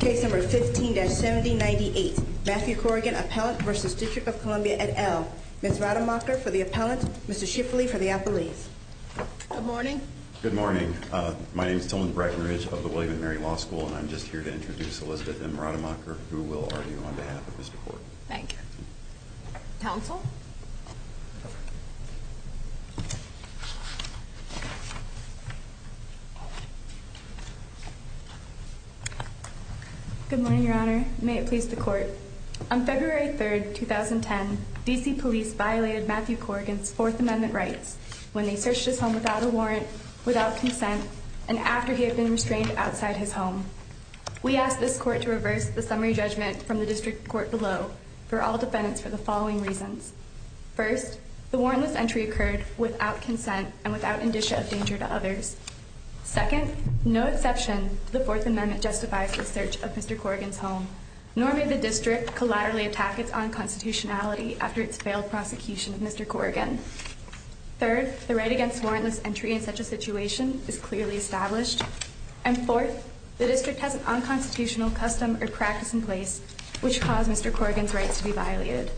Case number 15-7098. Matthew Corrigan, appellant versus District of Columbia et al. Ms. Rademacher for the appellant, Mr. Shifley for the appellate. Good morning. Good morning. My name is Tillman Brackenridge of the William & Mary Law School, and I'm just here to introduce Elizabeth M. Rademacher, who will argue on behalf of Mr. Corrigan. Thank you. Counsel. Good morning, Your Honor. May it please the court. On February 3rd, 2010, DC police violated Matthew Corrigan's Fourth Amendment rights when they searched his home without a warrant, without consent, and after he had been restrained outside his home. We asked this court to reverse the summary judgment from the district court below for all defendants for the following reasons. First, the warrantless entry occurred without consent and without indicia of danger to others. Second, no exception to the Fourth Amendment justifies the search of Mr Corrigan's home, nor may the district collaterally attack its unconstitutionality after its failed prosecution of Mr Corrigan. Third, the right against warrantless entry in such a situation is clearly established. And fourth, the district has an unconstitutional custom or practice in place which caused Mr Corrigan's rights to be violated.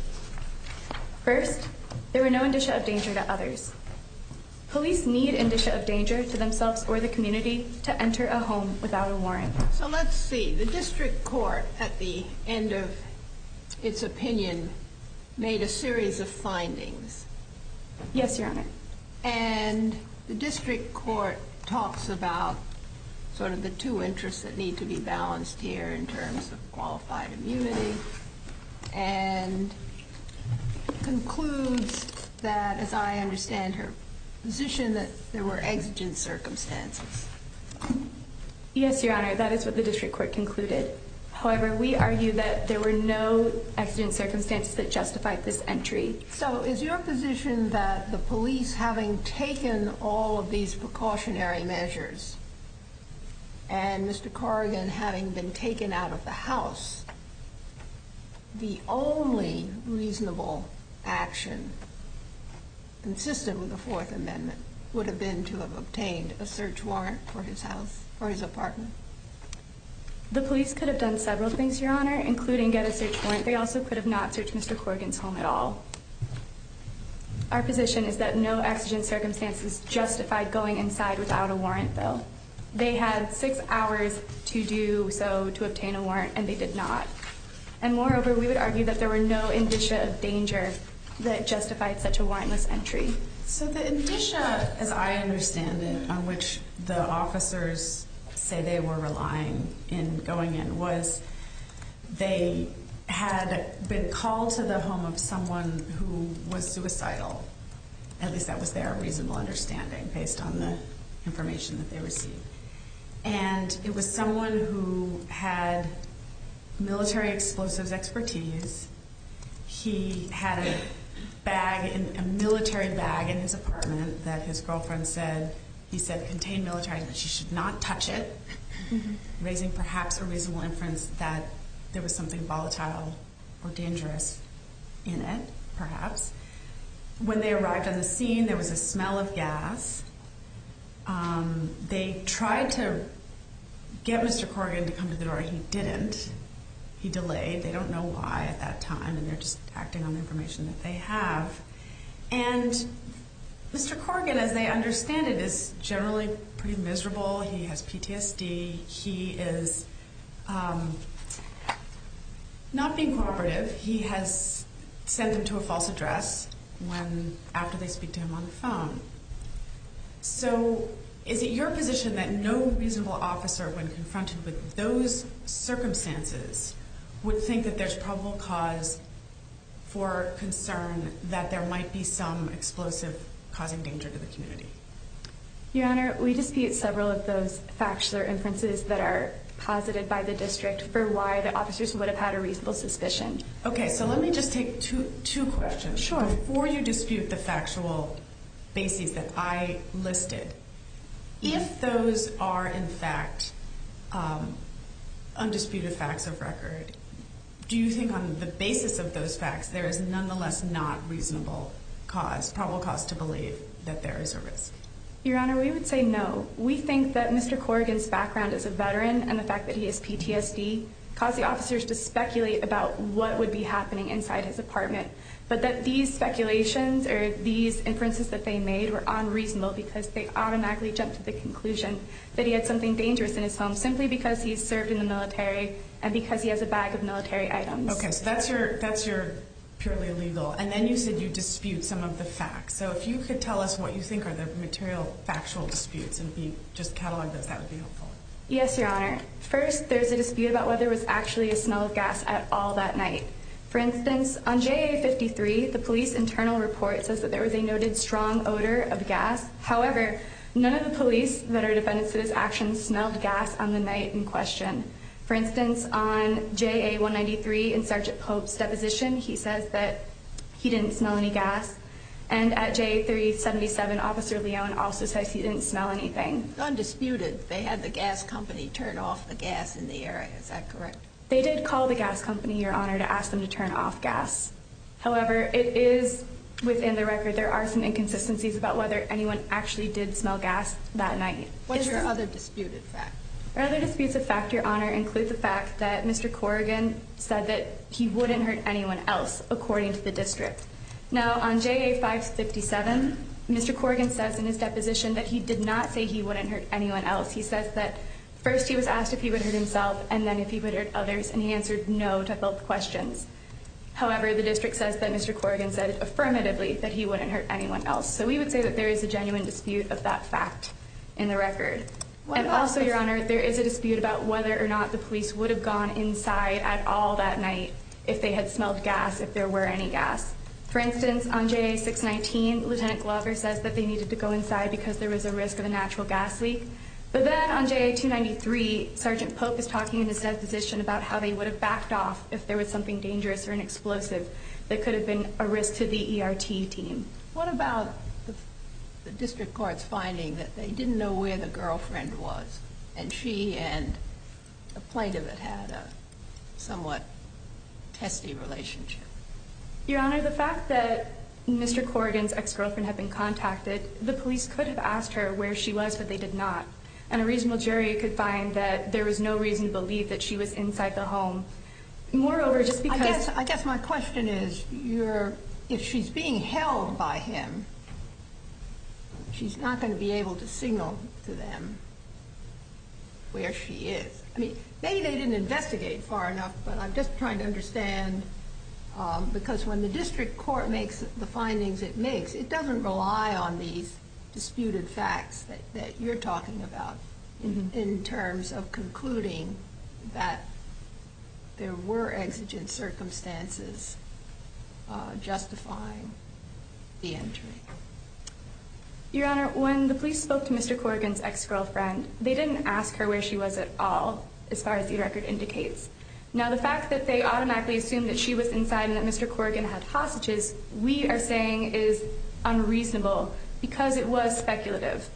First, there were no indicia of danger to others. Police need indicia of danger to themselves or the community to enter a home without a warrant. So let's see. The district court at the end of its opinion made a series of findings. Yes, Your Honor. And the district court talks about sort of the two interests that need to be balanced here in terms of qualified immunity and concludes that, as I understand her position, that there were exigent circumstances. Yes, Your Honor. That is what the district court concluded. However, we argue that there were no exigent circumstances that justified this entry. So is your position that the police, having taken all of these precautionary measures and Mr Corrigan having been taken out of the house, the only reasonable action consistent with the Fourth Amendment would have been to have obtained a search warrant for his house or his apartment? The police could have done several things, Your Honor, including get a search warrant. They also could have not searched Mr Corrigan's home at all. Our position is that no exigent circumstances justified going inside without a warrant, though they had six hours to do so to obtain a warrant, and they did not. And moreover, we would argue that there were no indicia of danger that justified such a warrantless entry. So the indicia, as I understand it, on which the officers say they were relying in going in, was they had been called to the home of someone who was suicidal. At least that was their reasonable understanding, based on the information that they received. And it was someone who had military explosives expertise. He had a bag, a military bag, in his apartment that his girlfriend said, he said, contained military, but she should not touch it, raising perhaps a reasonable inference that there was something volatile or dangerous in it, perhaps. When they arrived on the scene, there was a smell of gas. They tried to get Mr Corrigan to come to the door. He didn't. He delayed. They don't know why at that time, and they're just acting on the information that they have. And Mr Corrigan, as they understand it, is generally pretty miserable. He has PTSD. He is not being cooperative. He has sent him to a false address when, after they speak to him on the phone. So is it your position that no reasonable officer, when confronted with those circumstances, would think that there's probable cause for concern that there might be some explosive causing danger to the community? Your Honor, we dispute several of those facts or inferences that are posited by the district for why the officers would have had a reasonable suspicion. Okay, so let me just take two questions before you dispute the factual basis that I listed. If those are, in fact, undisputed facts of record, do you think on the basis of those facts, there is nonetheless not reasonable cause, probable cause to believe that there is a risk? Your Honor, we would say no. We think that Mr Corrigan's of veteran and the fact that he has PTSD caused the officers to speculate about what would be happening inside his apartment. But that these speculations or these inferences that they made were unreasonable because they automatically jumped to the conclusion that he had something dangerous in his home simply because he's served in the military and because he has a bag of military items. Okay, so that's your that's your purely illegal. And then you said you dispute some of the facts. So if you could tell us what you think are the material factual disputes and just catalog this. That would be helpful. Yes, Your Honor. First, there's a dispute about whether it was actually a smell of gas at all that night. For instance, on J. 53, the police internal report says that there was a noted strong odor of gas. However, none of the police that are defendants of this action smelled gas on the night in question. For instance, on J. A. 1 93 in Sergeant Pope's deposition, he says that he didn't smell any gas and at J 3 77 Officer Leon also says he didn't smell anything undisputed. They had the gas company turn off the gas in the area. Is that correct? They did call the gas company, Your Honor, to ask them to turn off gas. However, it is within the record. There are some inconsistencies about whether anyone actually did smell gas that night. What's your other disputed fact? Other disputes of fact, Your Honor, include the fact that Mr Corrigan said that he wouldn't hurt anyone else, according to the district. Now, on J. A. 5 57, Mr Corrigan says in his deposition that he did not say he wouldn't hurt anyone else. He says that first he was asked if he would hurt himself and then if he would hurt others, and he answered no to both questions. However, the district says that Mr Corrigan said affirmatively that he wouldn't hurt anyone else. So we would say that there is a genuine dispute of that fact in the record. And also, Your Honor, there is a dispute about whether or not the police would have gone inside at all that night if they had smelled gas, if there were any gas. For instance, on J 6 19, Lieutenant Glover says that they needed to go inside because there was a risk of a natural gas leak. But then on J 2 93, Sergeant Pope is talking in his deposition about how they would have backed off if there was something dangerous or an explosive that could have been a risk to the E. R. T. Team. What about the district court's finding that they didn't know where the girlfriend was and she and a plaintiff that had a somewhat testy relationship? Your Honor, the fact that Mr Corrigan's ex girlfriend had been contacted, the police could have asked her where she was, but they did not. And a reasonable jury could find that there was no reason to believe that she was inside the home. Moreover, just because I guess my question is, you're if she's being held by him, she's not going to be able to signal to them where she is. I mean, maybe they didn't investigate far enough, but I'm just trying to understand because when the district court makes the findings it makes, it doesn't rely on these disputed facts that you're talking about in terms of concluding that there were exigent circumstances justifying the entry. Your Honor, when the police spoke to Mr Corrigan's ex girlfriend, they didn't ask her where she was at all. As far as the record indicates now, the fact that they automatically assume that she was inside and that Mr Corrigan had hostages we are saying is unreasonable because it was speculative.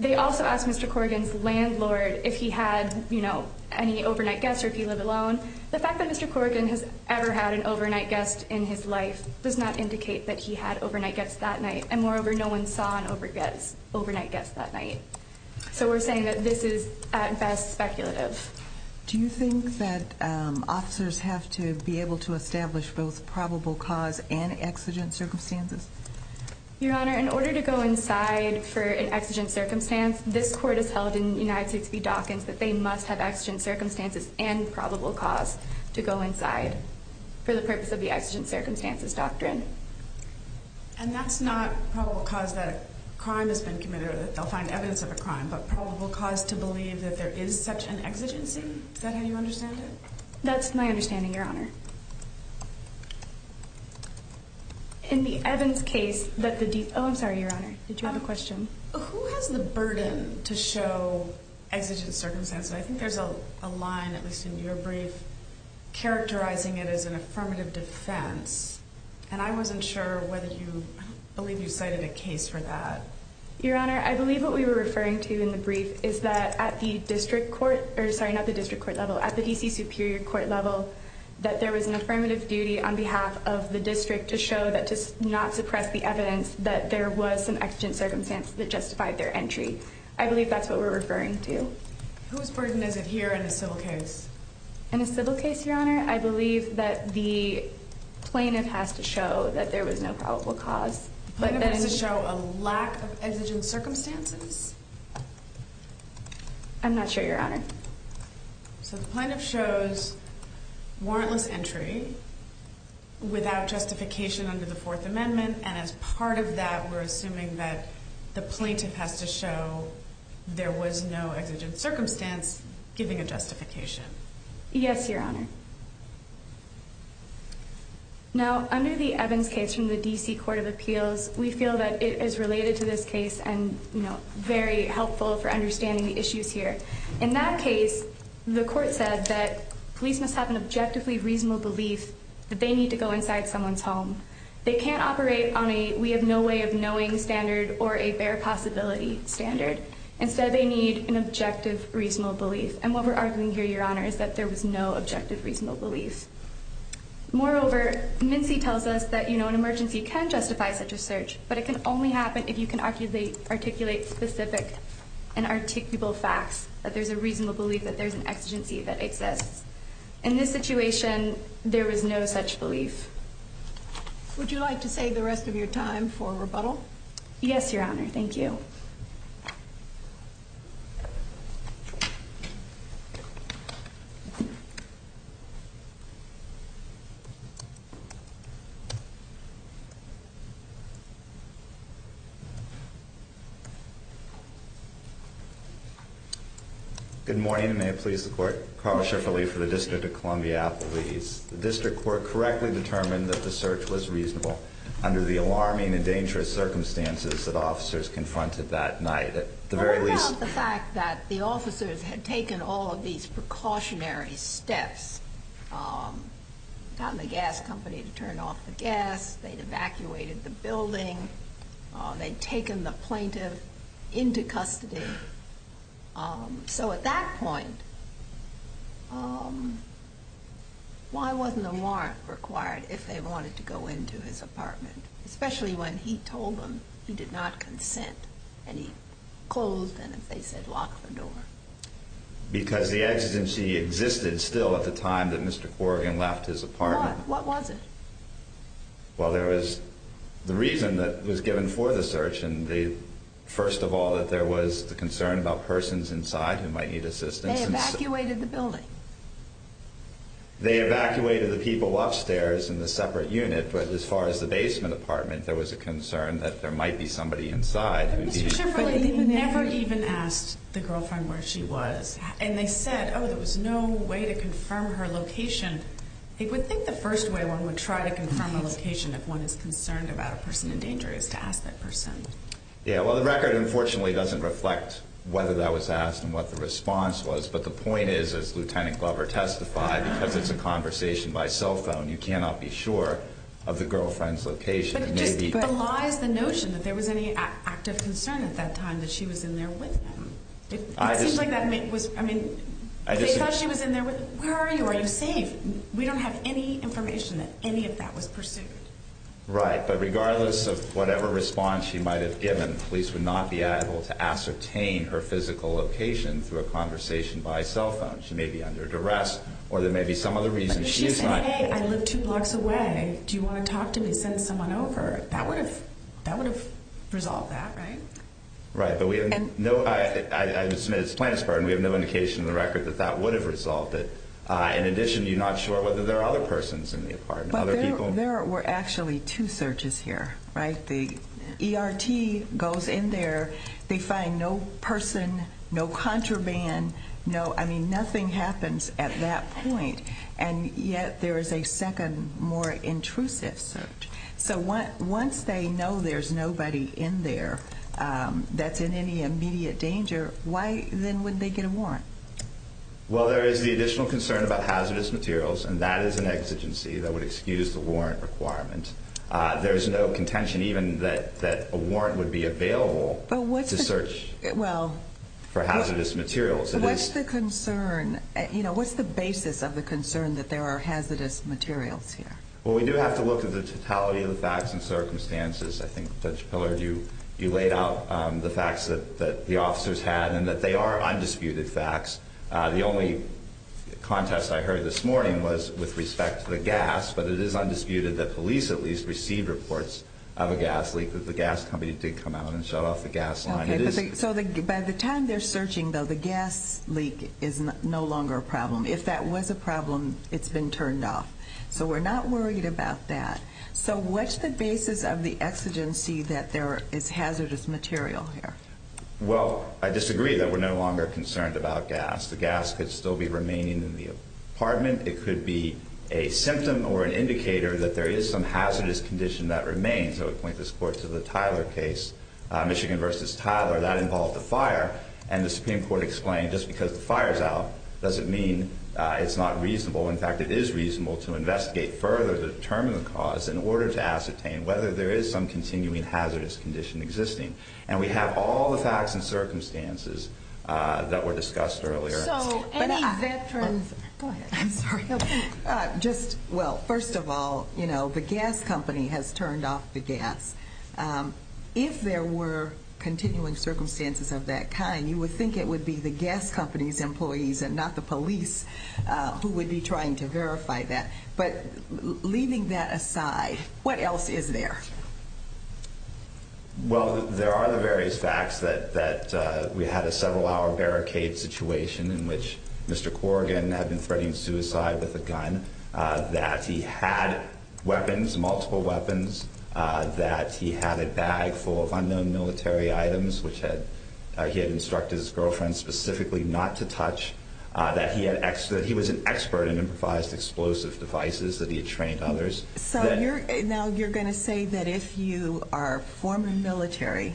They also asked Mr Corrigan's landlord if he had, you know, any overnight guests or if you live alone. The fact that Mr Corrigan has ever had an overnight guest in his life does not indicate that he had overnight gets that night. And moreover, no one saw an over gets overnight gets that night. So we're saying that this is at best speculative. Do you think that officers have to be able to establish both probable cause and exigent circumstances? Your Honor, in this court is held in the United States be Dawkins that they must have exigent circumstances and probable cause to go inside for the purpose of the exigent circumstances doctrine. And that's not probable cause that crime has been committed. They'll find evidence of a crime, but probable cause to believe that there is such an exigency. Is that how you understand it? That's my understanding, Your Honor. In the Evans case that the deep Oh, I'm sorry, Your Honor. Did you have a burden to show exigent circumstances? I think there's a line, at least in your brief, characterizing it is an affirmative defense, and I wasn't sure whether you believe you cited a case for that. Your Honor, I believe what we were referring to in the brief is that at the district court or sorry, not the district court level at the D. C. Superior Court level that there was an affirmative duty on behalf of the district to show that just not suppress the evidence that there was some exigent circumstance that justified their entry. I believe that's what we're referring to. Whose burden is it here in a civil case? In a civil case, Your Honor, I believe that the plaintiff has to show that there was no probable cause, but that is to show a lack of exigent circumstances. I'm not sure, Your Honor. So the plaintiff shows warrantless entry without justification under the to show there was no exigent circumstance giving a justification. Yes, Your Honor. Now, under the Evans case from the D. C. Court of Appeals, we feel that it is related to this case and, you know, very helpful for understanding the issues here. In that case, the court said that police must have an objectively reasonable belief that they need to go inside someone's home. They can't standard. Instead, they need an objective, reasonable belief. And what we're arguing here, Your Honor, is that there was no objective, reasonable belief. Moreover, Mincy tells us that, you know, an emergency can justify such a search, but it could only happen if you can actually articulate specific and articulable facts that there's a reasonable belief that there's an exigency that exists. In this situation, there was no such belief. Would you like to say the rest of your time for rebuttal? Yes, Your Honor. Thank you. Okay. Good morning. May it please the court? Carlos Schifferle for the District of Columbia Appellees. The District Court correctly determined that the search was reasonable under the alarming and dangerous circumstances that officers confronted that night. At the very least... What about the fact that the officers had taken all of these precautionary steps? Gotten the gas company to turn off the gas. They'd evacuated the building. They'd taken the plaintiff into custody. So at that point, why wasn't a warrant required if they wanted to go into his apartment, especially when he told them he did not consent and he closed and, as they said, locked the door? Because the exigency existed still at the time that Mr. Corrigan left his apartment. What was it? Well, there was the reason that was given for the search, and they... First of all, that there was the concern about persons inside who might need assistance. They evacuated the building. They evacuated the people upstairs in the separate unit, but as far as the basement apartment, there was a concern that there might be somebody inside... Mr. Chivrely, they never even asked the girlfriend where she was, and they said, oh, there was no way to confirm her location. They would think the first way one would try to confirm a location if one is concerned about a person in danger is to ask that person. Yeah, well, the record unfortunately doesn't reflect whether that was asked and what the response was, but the point is, as Lieutenant Glover testified, because it's a conversation by cell phone, you cannot be sure of the girlfriend's location. But just belies the notion that there was any active concern at that time that she was in there with him. It seems like that was... I mean, they thought she was in there with... Where are you? Are you safe? We don't have any information that any of that was pursued. Right, but regardless of whatever response she might have given, police would not be able to ascertain her physical location through a conversation by cell phone. She may be under duress, or there may be some other reason she is not. But if she said, hey, I live two blocks away. Do you wanna talk to me? Send someone over. That would have resolved that, right? Right, but we have no... I would submit it's Plante's part, and we have no indication in the record that that would have resolved it. In addition, you're not sure whether there are other persons in the apartment, other people. But there were actually two searches here, right? The ERT goes in there, they find no person, no contraband, no... I mean, nothing happens at that point, and yet there is a second, more intrusive search. So once they know there's nobody in there that's in any immediate danger, why then would they get a warrant? Well, there is the additional concern about hazardous materials, and that is an exigency that would excuse the warrant requirement. There's no contention even that a warrant would be a warrant. What's the basis of the concern that there are hazardous materials here? Well, we do have to look at the totality of the facts and circumstances. I think Judge Pillard, you laid out the facts that the officers had, and that they are undisputed facts. The only contest I heard this morning was with respect to the gas, but it is undisputed that police at least received reports of a gas leak, that the gas company did come out and shut off the gas line. So by the time they're searching, though, the gas leak is no longer a problem. If that was a problem, it's been turned off. So we're not worried about that. So what's the basis of the exigency that there is hazardous material here? Well, I disagree that we're no longer concerned about gas. The gas could still be remaining in the apartment. It could be a symptom or an indicator that there is some hazardous condition that remains. I would point this court to the Tyler case, Michigan versus Tyler, that involved the fire, and the Supreme Court explained just because the fire's out doesn't mean it's not reasonable. In fact, it is reasonable to investigate further to determine the cause in order to ascertain whether there is some continuing hazardous condition existing. And we have all the facts and circumstances that were discussed earlier. So any veterans? I'm sorry. Just well, first of all, you know, the gas company has turned off the gas. Um, if there were continuing circumstances of that kind, you would think it would be the gas company's employees and not the police who would be trying to verify that. But leaving that aside, what else is there? Well, there are the various facts that that we had a several hour barricade situation in which Mr Corrigan had been threatening suicide with a gun that he had weapons, multiple weapons, that he had a bag full of unknown military items, which had he had instructed his girlfriend specifically not to touch that he had ex that he was an expert in improvised explosive devices that he had trained others. So you're now you're going to say that if you are former military,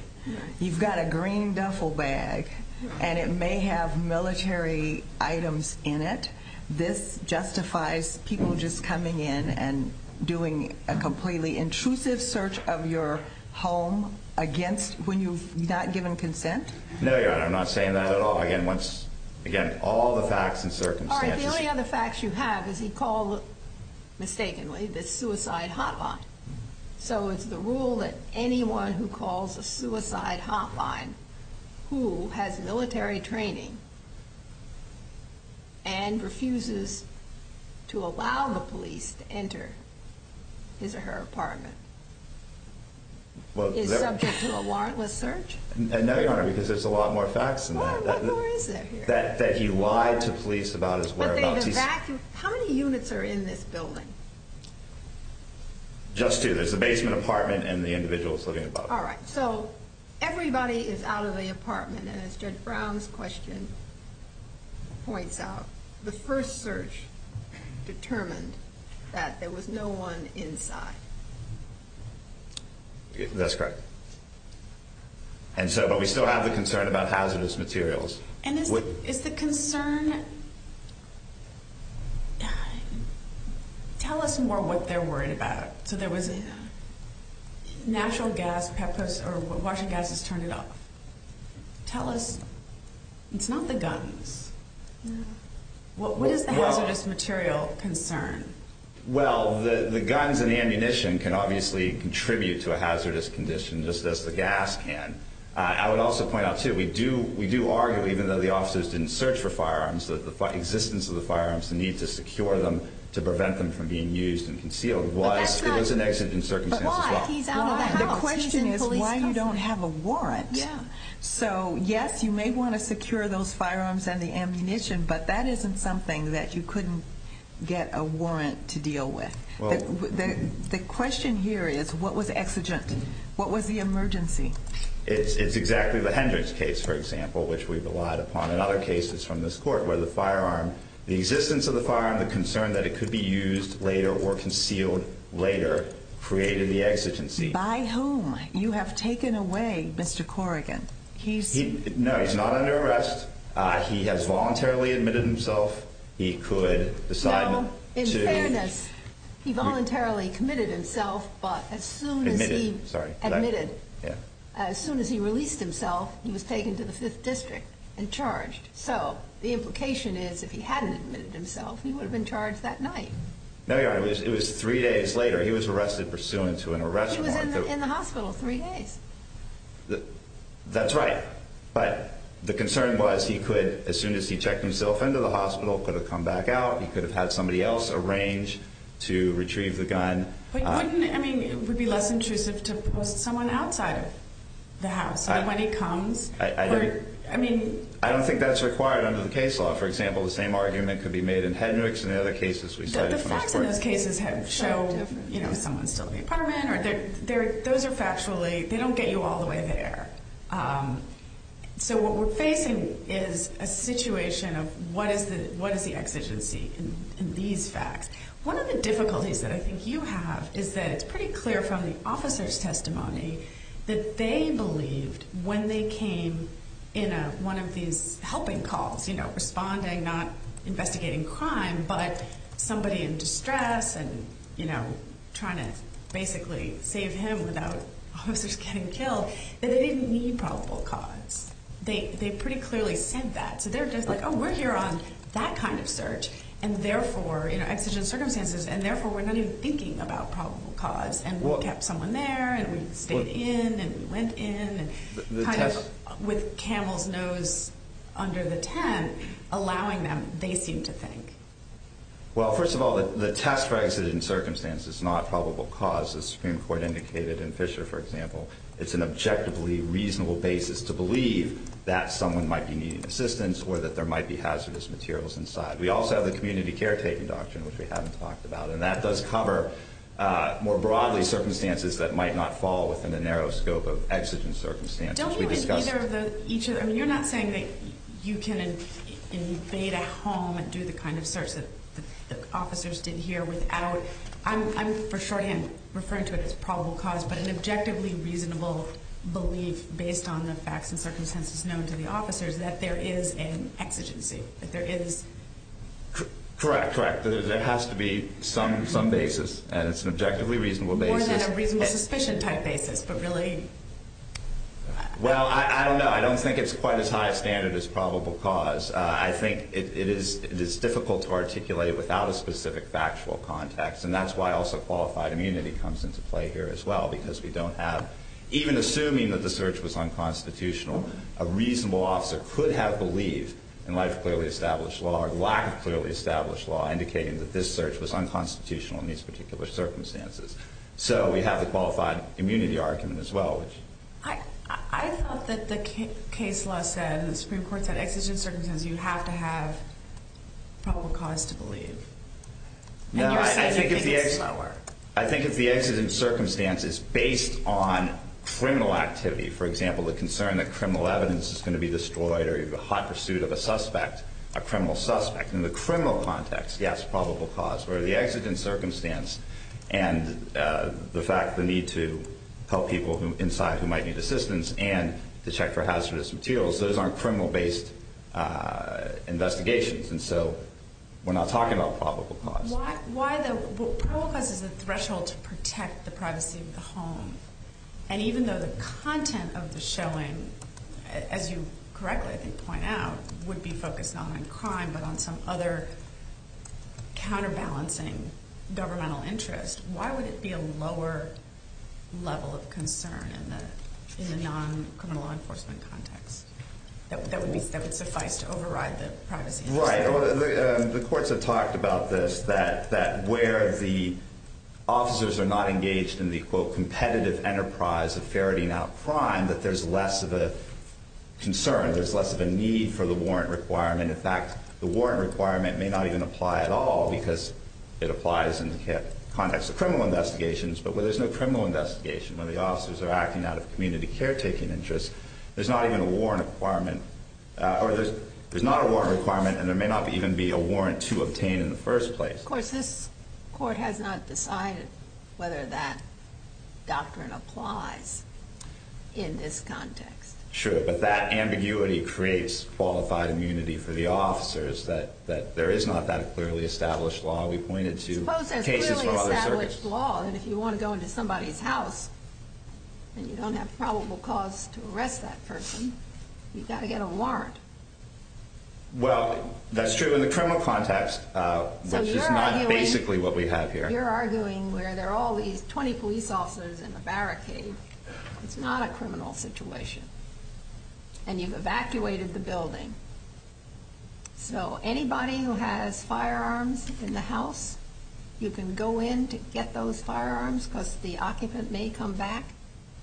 you've got a green duffel bag and it may have military items in it. This justifies people just coming in and doing a completely intrusive search of your home against when you've not given consent. No, you're not. I'm not saying that at all again. Once again, all the facts and circumstances, the only other facts you have is he called mistakenly the suicide hotline. So it's the rule that anyone who calls a suicide hotline who has military training and refuses to allow the police to enter his or her apartment well, is subject to a warrantless search. No, Your Honor, because there's a lot more facts than that that he lied to police about his whereabouts. How many units are in this building? Just two. There's a basement apartment and the individuals living above. All right, so everybody is out of the apartment. And it's Judge Brown's question. Points out the first search determined that there was no one inside. That's correct. And so, but we still have the concern about hazardous materials. And is the concern tell us more what they're worried about. So there was natural gas or washing gases. Turn it off. Tell us. It's not the guns. What is the hazardous material concern? Well, the guns and ammunition can obviously contribute to a hazardous condition, just as the gas can. I would also point out to we do. We do argue, even though the officers didn't search for firearms, that the existence of the firearms, the need to secure them to prevent them from being used and concealed was it was an exit in circumstances. The question is why you don't have a warrant. So, yes, you may want to secure those firearms and the ammunition, but that isn't something that you couldn't get a warrant to deal with. The question here is what was exigent? What was the emergency? It's exactly the Hendricks case, for example, which we've relied upon in other cases from this court where the firearm, the existence of the firearm, the concern that it could be used later or concealed later created the exigency by whom you have taken away Mr Corrigan. He's no, he's not under arrest. He has voluntarily admitted himself. He could decide. In fairness, he voluntarily committed himself. But as soon as he admitted, as soon as he released himself, he was taken to the Fifth District and charged. So the implication is, if he hadn't admitted himself, he would have been charged that night. No, you are. It was three days later. He was arrested pursuant to an in the hospital three days. That's right. But the concern was he could, as soon as he checked himself into the hospital, could have come back out. He could have had somebody else arrange to retrieve the gun. I mean, it would be less intrusive to post someone outside of the house when he comes. I mean, I don't think that's required under the case law. For example, the same argument could be made in Hendricks and other cases. We said the facts in those cases have show, you know, those are factually, they don't get you all the way there. So what we're facing is a situation of what is the exigency in these facts? One of the difficulties that I think you have is that it's pretty clear from the officer's testimony that they believed when they came in one of these helping calls, you know, responding, not investigating crime, but somebody in basically save him without officers getting killed that they didn't need probable cause. They pretty clearly said that. So they're just like, Oh, we're here on that kind of search and therefore exigent circumstances and therefore we're not even thinking about probable cause and kept someone there and we stayed in and went in with camel's nose under the 10 allowing them, they seem to think. Well, first of all, the test for exited in circumstances, not probable cause. The Supreme Court indicated in Fisher, for example, it's an objectively reasonable basis to believe that someone might be needing assistance or that there might be hazardous materials inside. We also have the community caretaking doctrine, which we haven't talked about, and that does cover more broadly circumstances that might not fall within the narrow scope of exigent circumstances. We discussed each other. You're not saying that you can invade a home and do the kind of search that the officers did here without. I'm for shorthand referring to it as probable cause, but an objectively reasonable belief based on the facts and circumstances known to the officers that there is an exigency that there is correct. Correct. There has to be some some basis, and it's an objectively reasonable basis, reasonable suspicion type basis. But really, well, I don't know. I don't think it's quite as high standard is probable cause. I think it is. It is difficult to articulate without a specific factual context, and that's why also qualified immunity comes into play here as well, because we don't have even assuming that the search was unconstitutional. A reasonable officer could have believed in life, clearly established law, lack of clearly established law, indicating that this search was unconstitutional in these particular circumstances. So we have a qualified immunity argument as well. I thought that the case law said the Supreme Court said exigent circumstances. You have to have probable cause to believe. No, I think it's the I think it's the exigent circumstances based on criminal activity. For example, the concern that criminal evidence is going to be destroyed or the hot pursuit of a suspect, a criminal suspect in the criminal context. Yes, probable cause where the exigent circumstance and the fact the need to help people inside who might need assistance and to check for hazardous materials. Those aren't criminal based investigations. And so we're not talking about probable cause. Why? Why? The purpose is a threshold to protect the privacy of the home. And even though the content of the showing, as you correctly point out, would be focused on crime, but on some other counterbalancing governmental interest. Why would it be a lower level of concern in the in the non criminal law enforcement context? That would be that would suffice to override the privacy. The courts have talked about this, that that where the officers are not engaged in the competitive enterprise of ferreting out crime, that there's less of a concern. There's less of a need for the warrant requirement. In fact, the warrant requirement may not even apply at all because it applies in the context of criminal investigations. But where there's no criminal investigation, when the officers are acting out of community caretaking interests, there's not even warrant requirement or there's not a warrant requirement, and there may not even be a warrant to obtain in the first place. Of course, this court has not decided whether that doctrine applies in this context. Sure. But that ambiguity creates qualified immunity for the officers that that there is not that clearly established law. We pointed to cases for other circuits law. And if you want to go into somebody's house and you don't have probable cause to arrest that person, you've got to get a warrant. Well, that's true in the criminal context, which is not basically what we have here. You're arguing where they're all these 20 police officers in the barricade. It's not a criminal situation, and you've evacuated the building. So anybody who has firearms in the house, you can go in to get those back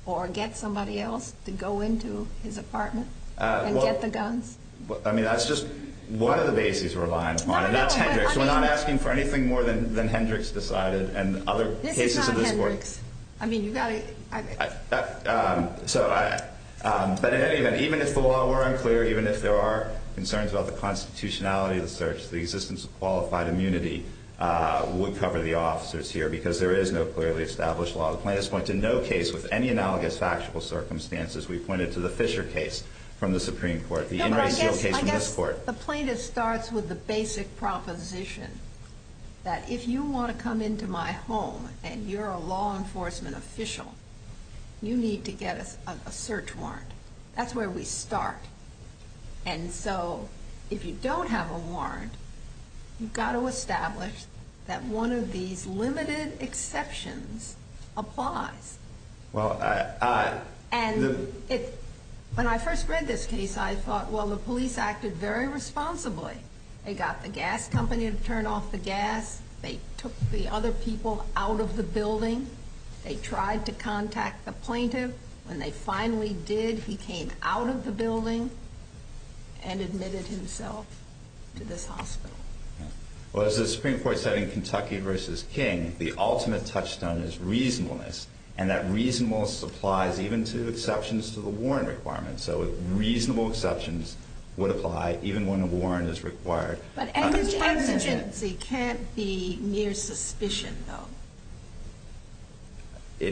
or get somebody else to go into his apartment and get the guns. I mean, that's just one of the bases we're relying on. We're not asking for anything more than than Hendricks decided. And other cases of this work. I mean, you got it. So, but even if the law were unclear, even if there are concerns about the constitutionality of the search, the existence of qualified immunity would cover the officers here because there is no clearly established law. The case with any analogous factual circumstances, we pointed to the Fisher case from the Supreme Court, the inner seal case in this court. The plaintiff starts with the basic proposition that if you want to come into my home and you're a law enforcement official, you need to get a search warrant. That's where we start. And so if you don't have a warrant, you've got to establish that one of these limited exceptions applies. Well, I and when I first read this case, I thought, well, the police acted very responsibly. They got the gas company to turn off the gas. They took the other people out of the building. They tried to contact the plaintiff. When they finally did, he came out of the building and admitted himself to this hospital. Well, as the Supreme Court setting Kentucky versus King, the ultimate touchstone is reasonableness and that reasonableness applies even to exceptions to the warrant requirements. So reasonable exceptions would apply even when a warrant is required. But the exigency can't be mere suspicion, though.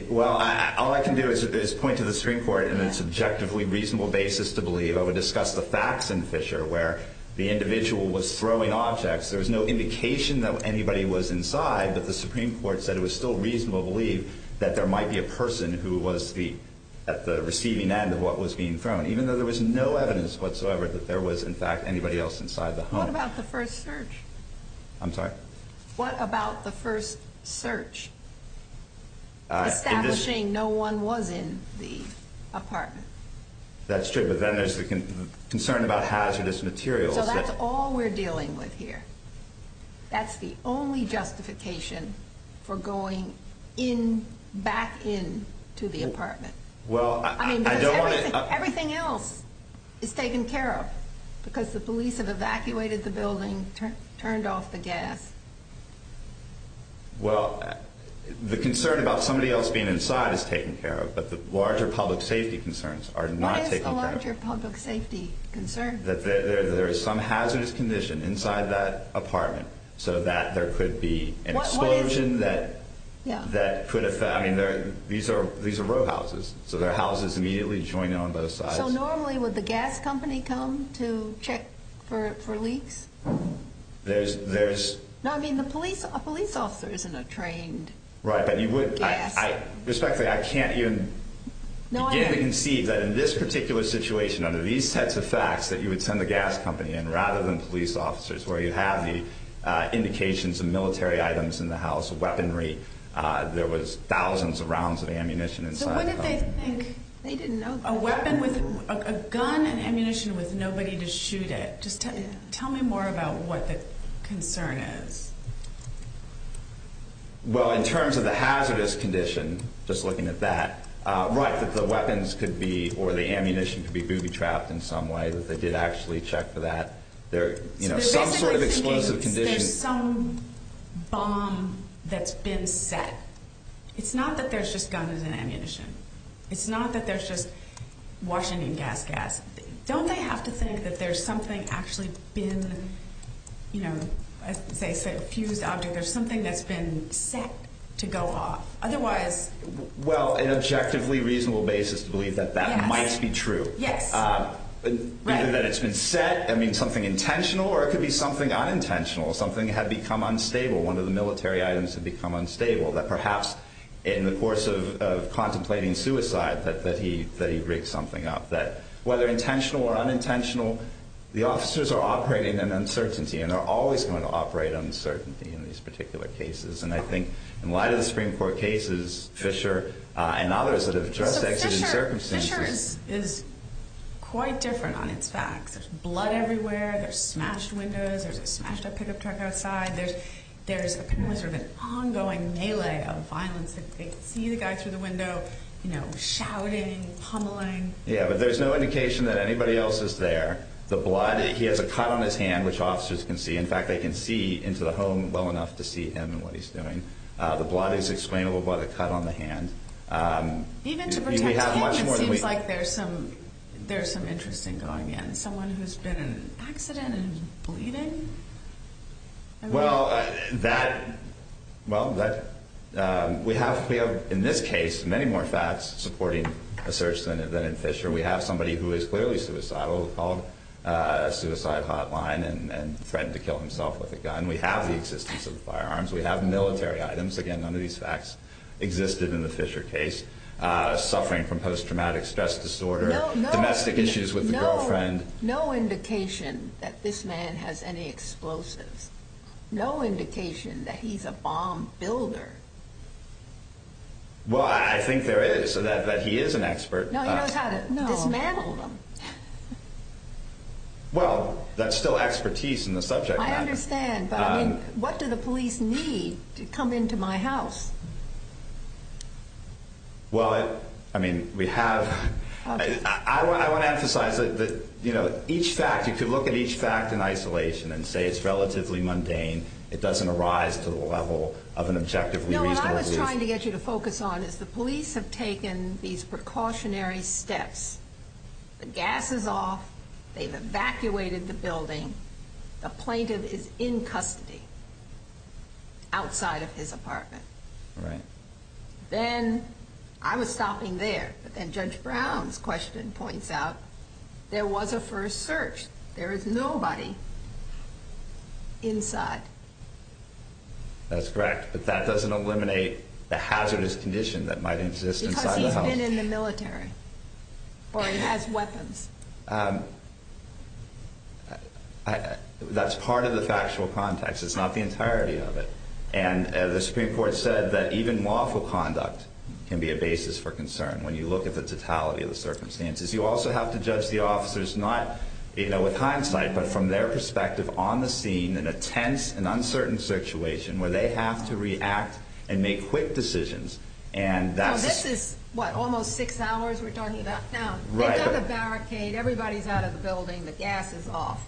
Well, all I can do is point to the Supreme Court and its objectively reasonable basis to believe I would discuss the facts in Fisher, where the there's no indication that anybody was inside. But the Supreme Court said it was still reasonable believe that there might be a person who was the at the receiving end of what was being thrown, even though there was no evidence whatsoever that there was, in fact, anybody else inside the home about the first search. I'm sorry. What about the first search? Establishing? No one was in the apartment. That's true. But then there's the concern about hazardous materials. That's all we're dealing with here. That's the only justification for going in back in to the apartment. Well, I mean, everything else is taken care of because the police have evacuated the building, turned off the gas. Well, the concern about somebody else being inside is taken care of. But the larger public safety concerns are larger public safety concern that there is some hazardous condition inside that apartment so that there could be an explosion that that could affect. I mean, these are these are row houses, so their houses immediately joined on both sides. Normally, with the gas company come to check for for leaks, there's there's no, I mean, the police police officers in a trained right. But you would respectfully I can't even know. I can see that in this particular situation, under these sets of facts that you would send the gas company and rather than police officers, where you have the indications of military items in the house of weaponry, there was thousands of rounds of ammunition. They didn't know a weapon with a gun and ammunition with nobody to shoot it. Just tell me more about what the concern is. Well, in terms of the hazardous condition, just looking at that right, that the weapons could be or the ammunition could be booby trapped in some way that they did actually check for that there, you know, some sort of explosive condition. There's some bomb that's been set. It's not that there's just guns and ammunition. It's not that there's just Washington gas gas. Don't they have to think that there's something actually been, you know, as they say, a fused object. There's something that's been set to go off otherwise. Well, an objectively reasonable basis to believe that that might be true. Yes, that it's been set. I mean, something intentional or it could be something unintentional. Something had become unstable. One of the military items had become unstable that perhaps in the course of contemplating suicide that that he that he rigged something up that whether intentional or unintentional, the officers are operating in uncertainty and they're always going to operate uncertainty in these particular cases. And I think in light of the Supreme Court cases, Fisher and others that address the circumstances is quite different on its facts. There's blood everywhere. There's smashed windows. There's a smashed up pickup truck outside. There's there's a sort of an ongoing melee of violence that they see the guy through the window, you know, shouting, pummeling. Yeah, but there's no indication that anybody else is there. The blood. He has a cut on his hand, which officers can see. In fact, they can see into the home well enough to see him and what he's doing. The blood is explainable by the cut on the hand. Um, even if we have much more, it seems like there's some there's some interesting going in someone who's been an accident and bleeding. Well, that well, that we have. We have in this case, many more facts supporting a search than than in Fisher. We have somebody who is clearly suicidal, called a suicide hotline and threatened to kill himself with a gun. We have the existence of firearms. We have military items again. None of these facts existed in the Fisher case suffering from post traumatic stress disorder. Domestic issues with no friend. No indication that this man has any explosives. No indication that he's a bomb builder. Well, I think there is so that he is an expert. No, dismantle them. Well, that's still expertise in the subject. I understand. But what do the police need to come into my house? Well, I mean, we have. I want to emphasize that, you know, each fact you could look at each fact in isolation and say it's relatively mundane. It doesn't arise to the level of an objective. I was trying to get you to focus on is the police have taken these precautionary steps. The gas is off. They've evacuated the building. The plaintiff is in custody outside of his apartment, right? Then I was stopping there. But then Judge Brown's question points out there was a first search. There is nobody inside. That's correct. But that doesn't eliminate the hazardous condition that might exist in the military. Or it has weapons. That's part of the factual context. It's not the entirety of it. And the Supreme Court said that even lawful conduct can be a basis for concern. When you look at the totality of the circumstances, you also have to judge the officers not, you know, with hindsight, but from their perspective on the scene in a tense and uncertain situation where they have to react and write a barricade. Everybody's out of the building. The gas is off,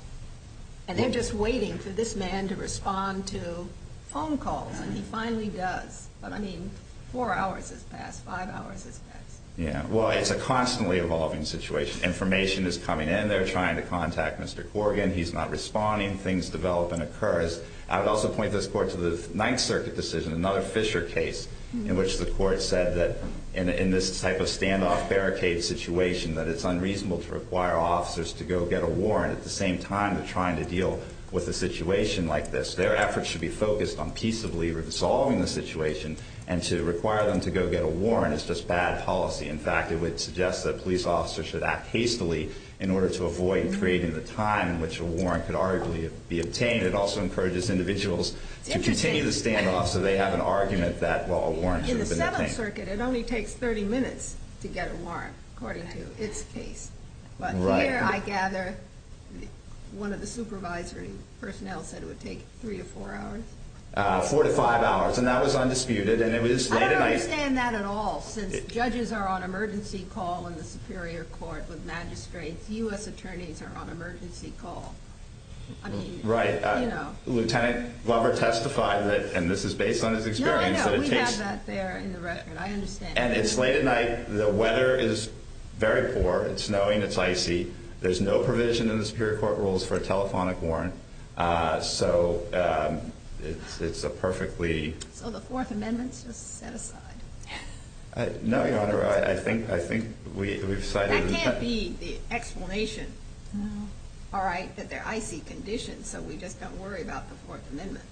and they're just waiting for this man to respond to phone calls. And he finally does. But I mean, four hours has passed. Five hours. Yeah, well, it's a constantly evolving situation. Information is coming in there trying to contact Mr Corrigan. He's not responding. Things develop and occurs. I would also point this court to the Ninth Circuit decision. Another Fisher case in which the court said that in this type of standoff barricade situation that it's unreasonable to require officers to go get a warrant at the same time. They're trying to deal with a situation like this. Their efforts should be focused on peaceably resolving the situation and to require them to go get a warrant. It's just bad policy. In fact, it would suggest that police officers should act hastily in order to avoid creating the time in which a warrant could arguably be obtained. It also encourages individuals to continue the standoff so they have an argument that wall warrants in the circuit. It only takes 30 minutes to get a warrant, according to its case. But here, I gather one of the supervisory personnel said it would take three or four hours, 45 hours, and that was undisputed. And it was. I don't understand that at all. Since judges are on emergency call in the Superior Court with magistrates, U. S. Attorneys are on emergency call. Right. Lieutenant Glover testified that, and this is based on his experience that it's late at night. The weather is very poor. It's snowing. It's icy. There's no provision in the Superior Court rules for a telephonic warrant. Eso it's a perfectly so the Fourth Amendment set aside. No, Your Honor. I think I think we've decided to be the explanation. No. All right. But there I see conditions, so we just don't worry about the Fourth Amendment.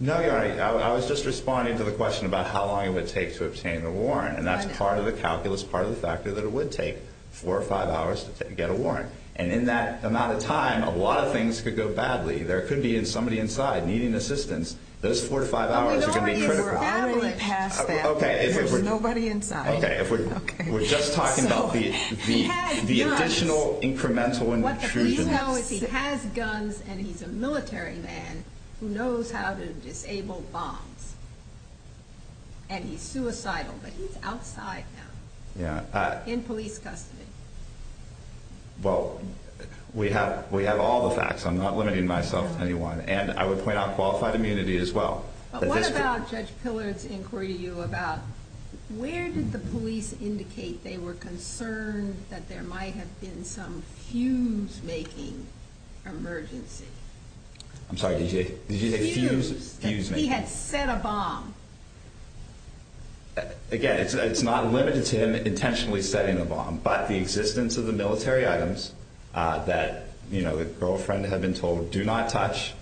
No, Your Honor. I was just responding to the question about how long it would take to obtain the warrant, and that's part of the calculus. Part of the fact that it would take four or five hours to get a warrant. And in that amount of time, a lot of things could go badly. There could be in somebody inside needing assistance. Those 45 hours could be critical. Okay, if we're nobody inside. Okay, if we were just talking about the additional incremental and you know, if he has guns and he's a military man who knows how to disable bombs and he's suicidal, but he's outside. Yeah, in police custody. Well, we have. We have all the facts. I'm not limiting myself anyone, and I would point out qualified immunity as well. What about Judge Pillard's were you about? Where did the police indicate they were concerned that there might have been some fumes making emergency? I'm sorry. Did you? Did you have fumes? He had set a bomb again. It's not limited to him intentionally setting a bomb, but the existence of the military items that, you know, the girlfriend had been told do not touch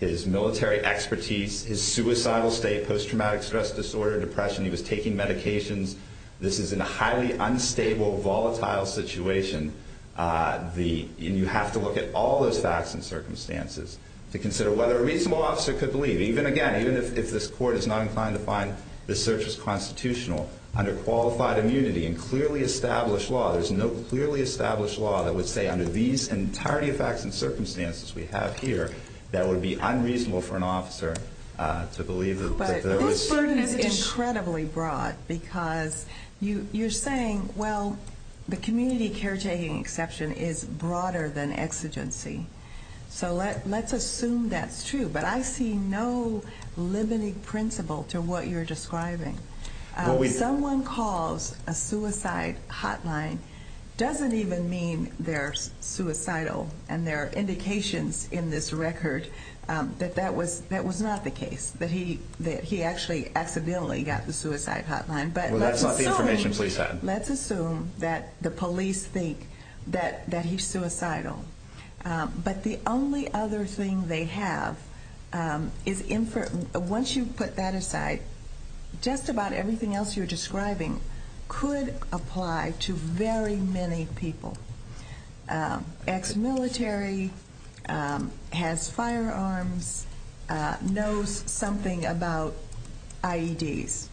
his military expertise, his suicidal state, post traumatic stress disorder, depression. He was taking medications. This is in a highly unstable, volatile situation. The you have to look at all those facts and circumstances to consider whether a reasonable officer could believe even again, even if this court is not inclined to find the search is constitutional under qualified immunity and clearly established law. There's no clearly established law that would say under these entirety of facts and circumstances we have here, that would be unreasonable for an officer to believe. But this burden is incredibly broad because you're saying, well, the community caretaking exception is broader than exigency. So let's assume that's true. But I see no limiting principle to what you're describing. Someone calls a suicide hotline doesn't even mean they're suicidal and their indications in this record that that was that was not the case that he that he actually accidentally got the suicide hotline. But that's not the information police had. Let's assume that the police think that that he's suicidal. But the only other thing they have, um, is in for once you put that aside, just about everything else you're describing could apply to very many people. Um, ex military, um, has firearms, knows something about I. E. D. S.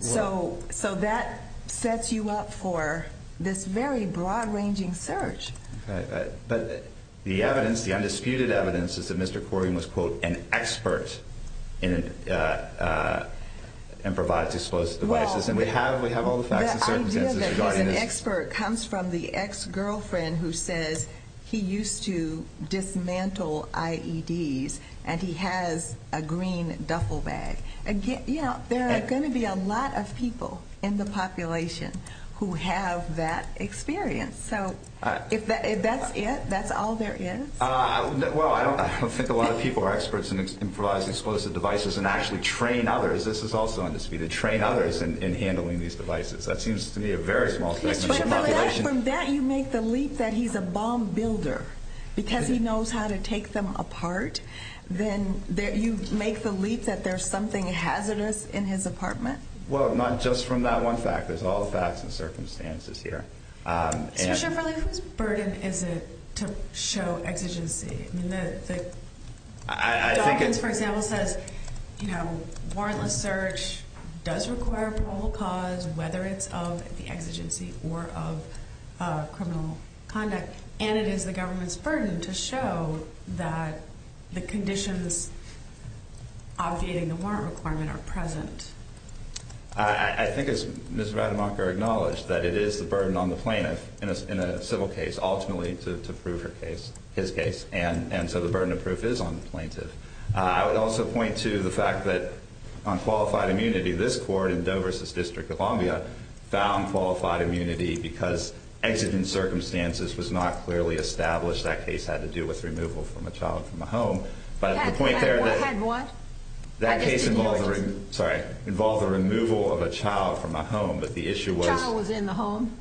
So. So that sets you up for this very broad ranging search. But the evidence, the undisputed evidence is that Mr Corbyn was quote an expert in, uh, uh, and provides explosive devices. And we have we have all the facts and ex girlfriend who says he used to dismantle I. E. D. S. And he has a green duffel bag again. You know, there are going to be a lot of people in the population who have that experience. So if that's it, that's all there is. Well, I don't think a lot of people are experts in improvising explosive devices and actually train others. This is also undisputed train others in handling these devices. That seems to me a very small population that you make the leap that he's a bomb builder because he knows how to take them apart. Then you make the leap that there's something hazardous in his apartment. Well, not just from that one fact, there's all the facts and circumstances here. Um, especially for this burden. Is it to show exigency? I mean, the I think it's, for example, says, you know, warrantless search does require probable cause, whether it's of the exigency or of criminal conduct. And it is the government's burden to show that the conditions obviating the warrant requirement are present. I think it's Mr. Adam Walker acknowledged that it is the burden on the plaintiff in a civil case, ultimately to prove her case, his case. And so the burden of proof is on the plaintiff. I would also point to the fact that on qualified immunity, this court in Dover says District of Columbia found qualified immunity because exit in circumstances was not clearly established. That case had to do with removal from a child from a home. But the point there that that case involving sorry involved the removal of a child from my home. But the issue was in the home.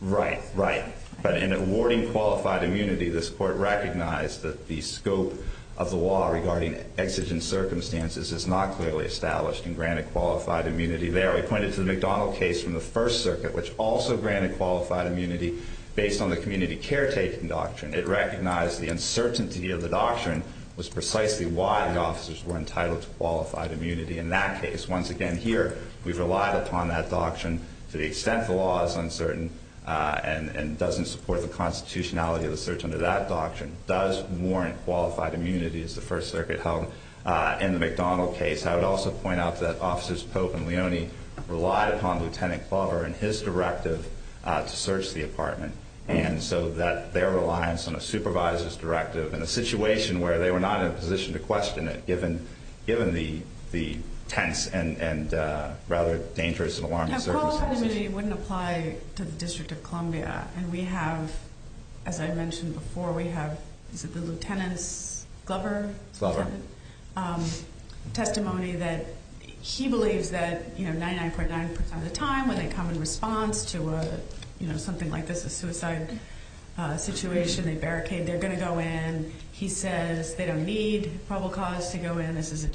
Right, right. But in awarding qualified immunity, this court recognized that the scope of the law regarding exigent circumstances is not clearly established and granted qualified immunity. They are acquainted to the McDonald case from the First Circuit, which also granted qualified immunity based on the community caretaking doctrine. It recognized the uncertainty of the doctrine was precisely why the officers were entitled to qualified immunity. In that case, once again here, we've relied upon that doctrine to the extent the law is uncertain on and doesn't support the constitutionality of the search under that doctrine does warrant qualified immunity is the First Circuit held in the McDonald case. I would also point out that officers Pope and Leone relied upon Lieutenant Clover and his directive to search the apartment and so that their reliance on a supervisor's directive in a situation where they were not in a position to question it, given given the tense and rather dangerous and alarm. Wouldn't apply to the District of Columbia. And we have, as I mentioned before, we have the lieutenants Glover Glover, um, testimony that he believes that, you know, 99.9% of the time when they come in response to, you know, something like this, a suicide situation, they barricade, they're gonna go in. He says they don't need probable cause to go in. This is a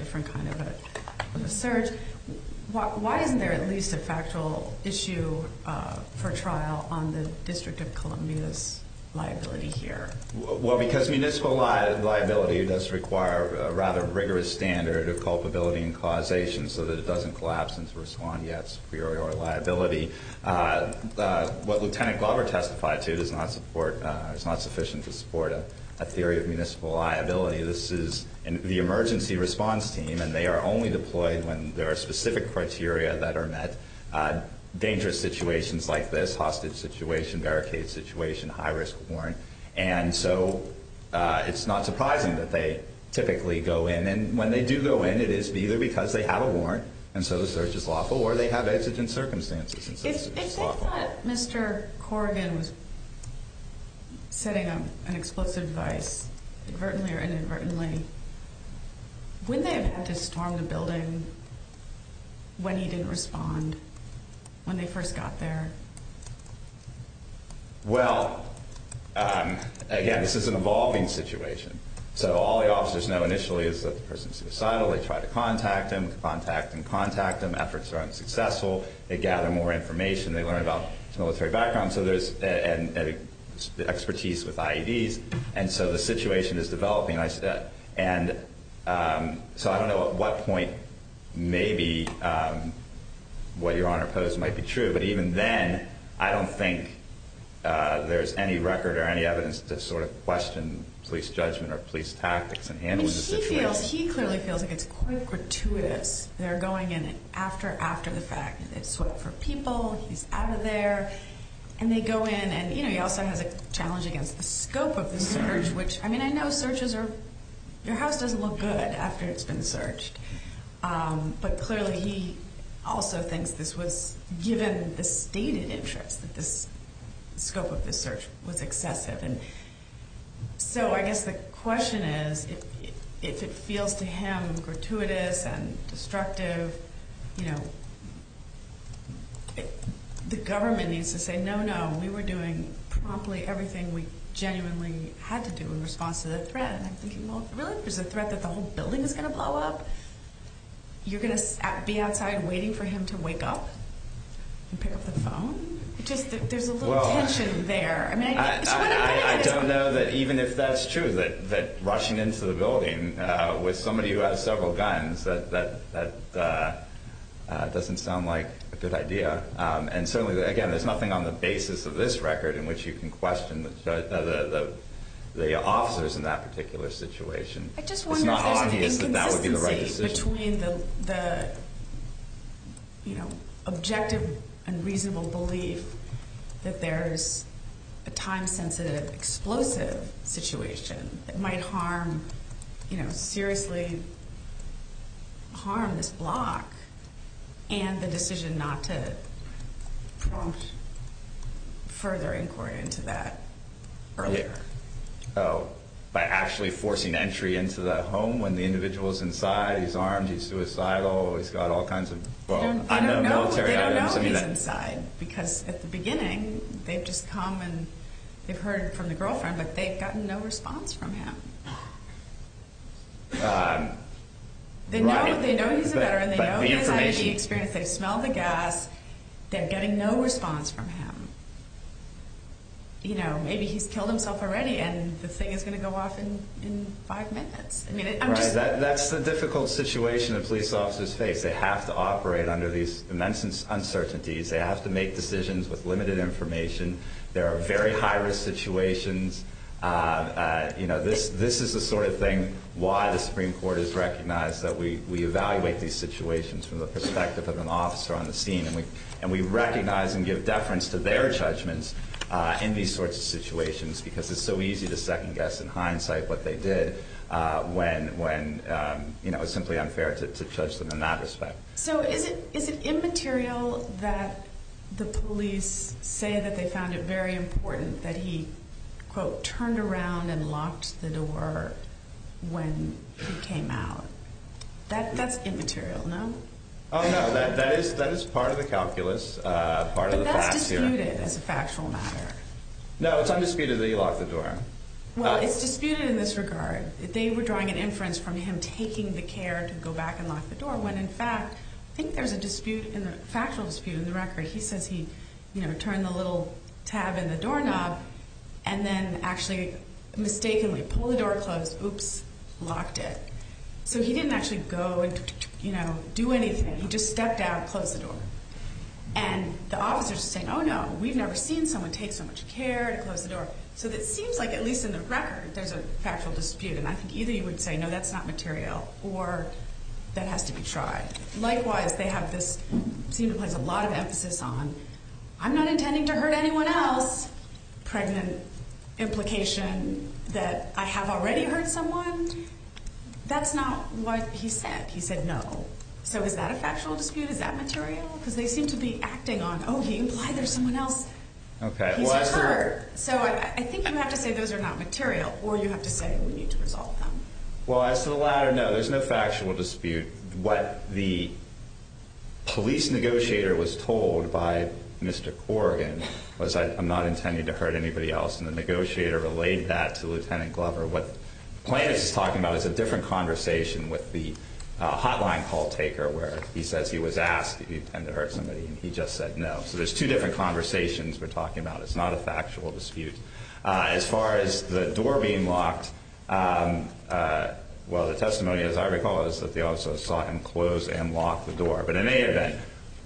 at least a factual issue for trial on the District of Columbia's liability here. Well, because municipal liability liability does require rather rigorous standard of culpability and causation so that it doesn't collapse into respond. Yes, we are your liability. Uh, what Lieutenant Glover testified to does not support. It's not sufficient to support a theory of municipal liability. This is the emergency response team, and they are only deployed when there are specific criteria that are met dangerous situations like this hostage situation, barricade situation, high risk warrant. And so it's not surprising that they typically go in. And when they do go in, it is either because they have a warrant. And so the search is lawful, or they have exigent circumstances. Mr Corrigan was setting up an explosive device inadvertently or inadvertently when they have to storm the building when he didn't respond when they first got there. Well, um, again, this is an evolving situation. So all the officers know initially is that the person's suicidal. They try to contact him, contact and contact them. Efforts are unsuccessful. They gather more information. They learn about military background. So there's an expertise with IEDs. And so the situation is developing. And so I don't know what point. Maybe, um, what your honor pose might be true. But even then, I don't think there's any record or any evidence to sort of question police judgment or police tactics and handles. He feels he clearly feels like it's quite gratuitous. They're going in after after the fact that sweat for people. He's out of there, and they go in. And, you know, he also has a challenge against the scope of the search, which I mean, I know searches are your house doesn't look good after it's been searched. But clearly, he also thinks this was given the stated interest that this scope of the search was excessive. And so I guess the question is, if it feels to him, gratuitous and destructive, you know, the government needs to say, No, no, we were doing promptly everything we genuinely had to do in response to the threat. And I'm thinking, Well, really, there's a threat that the whole building is gonna blow up. You're gonna be outside waiting for him to wake up and pick up the phone. Just there's a little tension there. I mean, I don't know that even if that's true, that that rushing into the building with somebody who has several guns, that doesn't sound like a good idea. And certainly, again, there's nothing on the basis of this record in which you can question the officers in that particular situation. It's not obvious that that would be the right decision between the you know, objective and reasonable belief that there's a time sensitive, explosive situation that might harm, you know, seriously harm this block and the decision not to further inquiry into that earlier. Oh, by actually forcing entry into the home when the individual is inside, he's armed, he's suicidal. He's got all kinds of military inside because at the beginning they've just come and they've heard from the girlfriend, but they've gotten no response from him. They know, they know he's a veteran. They know he's had the experience. They smell the gas. They're getting no response from him. You know, maybe he's killed himself already, and the thing is gonna go off in five minutes. I mean, that's the difficult situation of police officers face. They have to operate under these immense uncertainties. They have to make decisions with limited information. There are very high risk situations. You know, this this is the sort of thing why the Supreme Court is recognized that way. We evaluate these situations from the perspective of an officer on the scene, and we and we recognize and give deference to their judgments in these sorts of situations because it's so easy to second guess in hindsight what they did when when, you know, it's simply unfair to judge them in that way. So is it? Is it immaterial that the police say that they found it very important that he turned around and locked the door when he came out? That that's immaterial, no? Oh, no, that that is. That is part of the calculus. Part of the factual matter. No, it's undisputedly locked the door. Well, it's disputed in this regard. They were drawing an inference from him taking the care to go back and lock the door when, in fact, I think there's a dispute in the factual dispute in the record. He says he, you know, turn the little tab in the doorknob and then actually mistakenly pull the door closed. Oops, locked it. So he didn't actually go and, you know, do anything. He just stepped out, closed the door, and the officers saying, Oh, no, we've never seen someone take so much care to close the door. So that seems like, at least in the record, there's a factual dispute. And I think either you would say, No, that's not material or that has to be tried. Likewise, they have this seem to place a lot of emphasis on. I'm not intending to hurt anyone else. Pregnant implication that I have already heard someone. That's not what he said. He said, No. So is that a factual dispute? Is that material? Because they seem to be acting on Oh, he implied there's someone else. Okay, well, I heard so I think you have to say those are not material or you have to say we need to resolve them. Well, as to the latter, no, there's no factual dispute. What the police negotiator was told by Mr Corrigan was that I'm not intending to hurt anybody else. And the negotiator relayed that to Lieutenant Glover. What plan is talking about is a different conversation with the hotline call taker where he says he was asked if you tend to hurt somebody, and he just said no. So there's two different conversations we're talking about. It's not a factual dispute as far as the door being locked. Um, uh, well, the testimony, as I recall, is that they also saw him close and lock the door. But in any event,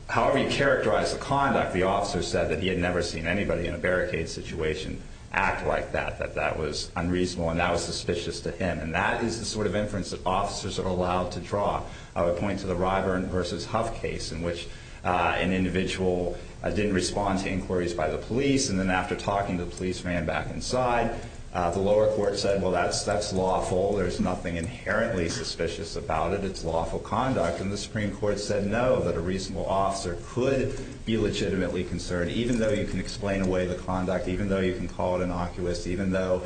however you characterize the conduct, the officer said that he had never seen anybody in a barricade situation act like that, that that was unreasonable, and that was suspicious to him. And that is the sort of inference that officers are allowed to draw. I would point to the Ryburn versus Huff case in which, uh, an individual didn't respond to inquiries by the police. And then after talking to the police man back inside, the lower court said, Well, that's that's lawful. There's nothing inherently suspicious about it. It's lawful conduct. And the Supreme Court said no, that a reasonable officer could be legitimately concerned, even though you can explain away the conduct, even though you can call it innocuous, even though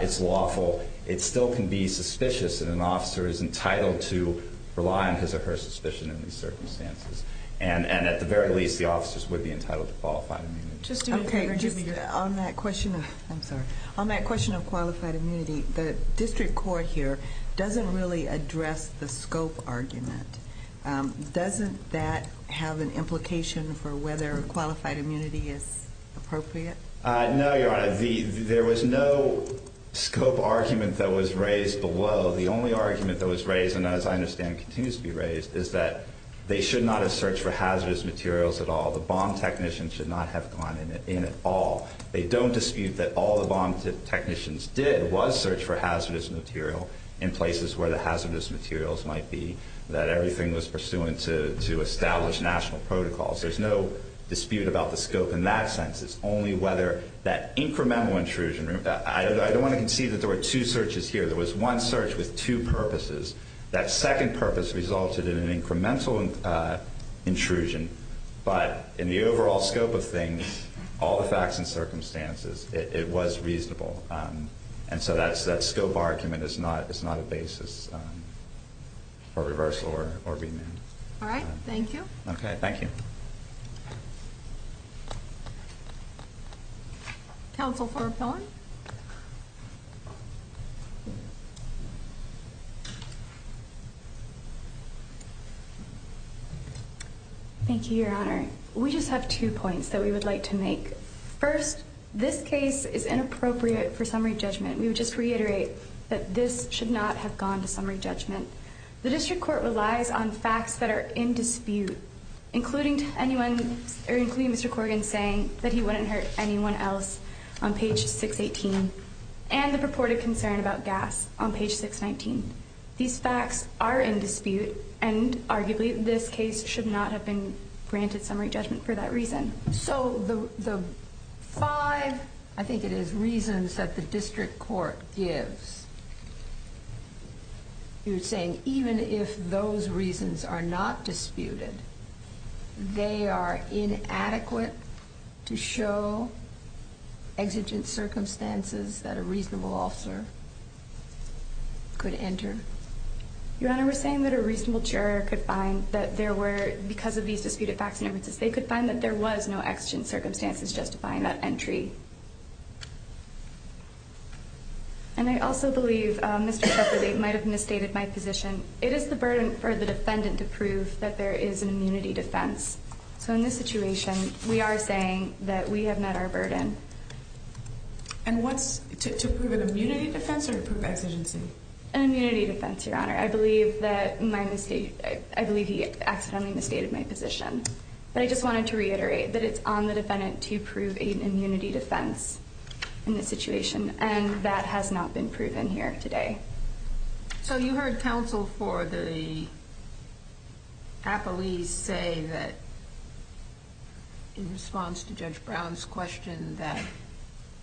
it's lawful, it still can be suspicious. And an officer is entitled to rely on his or her suspicion in these circumstances. And at the very least, the officers would be entitled to qualified immunity. Just on that question. I'm sorry. On that question of qualified immunity, the district court here doesn't really address the scope argument. Doesn't that have an implication for whether qualified immunity is appropriate? No, Your Honor, there was no scope argument that was raised below. The only argument that was raised, and as I understand, continues to be raised, is that they should not have searched for hazardous materials at all. The bomb technicians should not have gone in at all. They don't dispute that all the bomb technicians did was search for hazardous material in places where the hazardous materials might be, that everything was pursuant to establish national protocols. There's no dispute about the scope. In that sense, it's only whether that incremental intrusion. I don't want to concede that there were two searches here. There but in the overall scope of things, all the facts and circumstances, it was reasonable. And so that's that scope argument is not. It's not a basis for reversal or or being. All right. Thank you. Okay. Thank you. Council for going Thank you. Thank you, Your Honor. We just have two points that we would like to make. First, this case is inappropriate for summary judgment. We would just reiterate that this should not have gone to summary judgment. The district court relies on facts that are in dispute, including anyone, including Mr Corrigan, saying that he wouldn't hurt anyone else on page 6 18 and the purported concern about gas on page 6 19. These facts are in dispute, and arguably this case should not have been granted summary judgment for that reason. So the five I think it is reasons that the district court gives you're saying even if those reasons are not disputed, they are inadequate. To show exigent circumstances that a reasonable officer could enter. Your Honor, we're saying that a reasonable juror could find that there were because of these disputed facts and evidences, they could find that there was no action circumstances justifying that entry. And I also believe they might have misstated my position. It is the burden for the defendant to prove that there is an immunity defense. So in this situation, we are saying that we have met our burden and what's to prove an immunity defense or prove exigency immunity defense. Your Honor, I believe that my mistake. I believe he accidentally misstated my position, but I just wanted to reiterate that it's on the defendant to prove an immunity defense in this situation, and that has not been proven here today. So you heard counsel for the Apple, we say that in response to Judge Brown's question that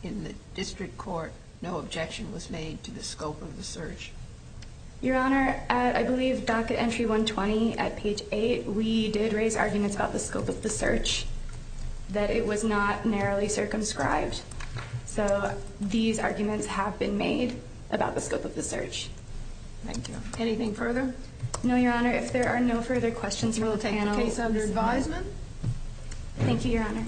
in the district court, no objection was made to the scope of the search. Your Honor, I believe docket entry 1 20 at page eight. We did raise arguments about the scope of the search that it was not narrowly circumscribed. So these arguments have been made about the scope of the search. Thank you. Anything further? No, Your Honor. If there are no further questions, we'll take the case under advisement. Thank you, Your Honor.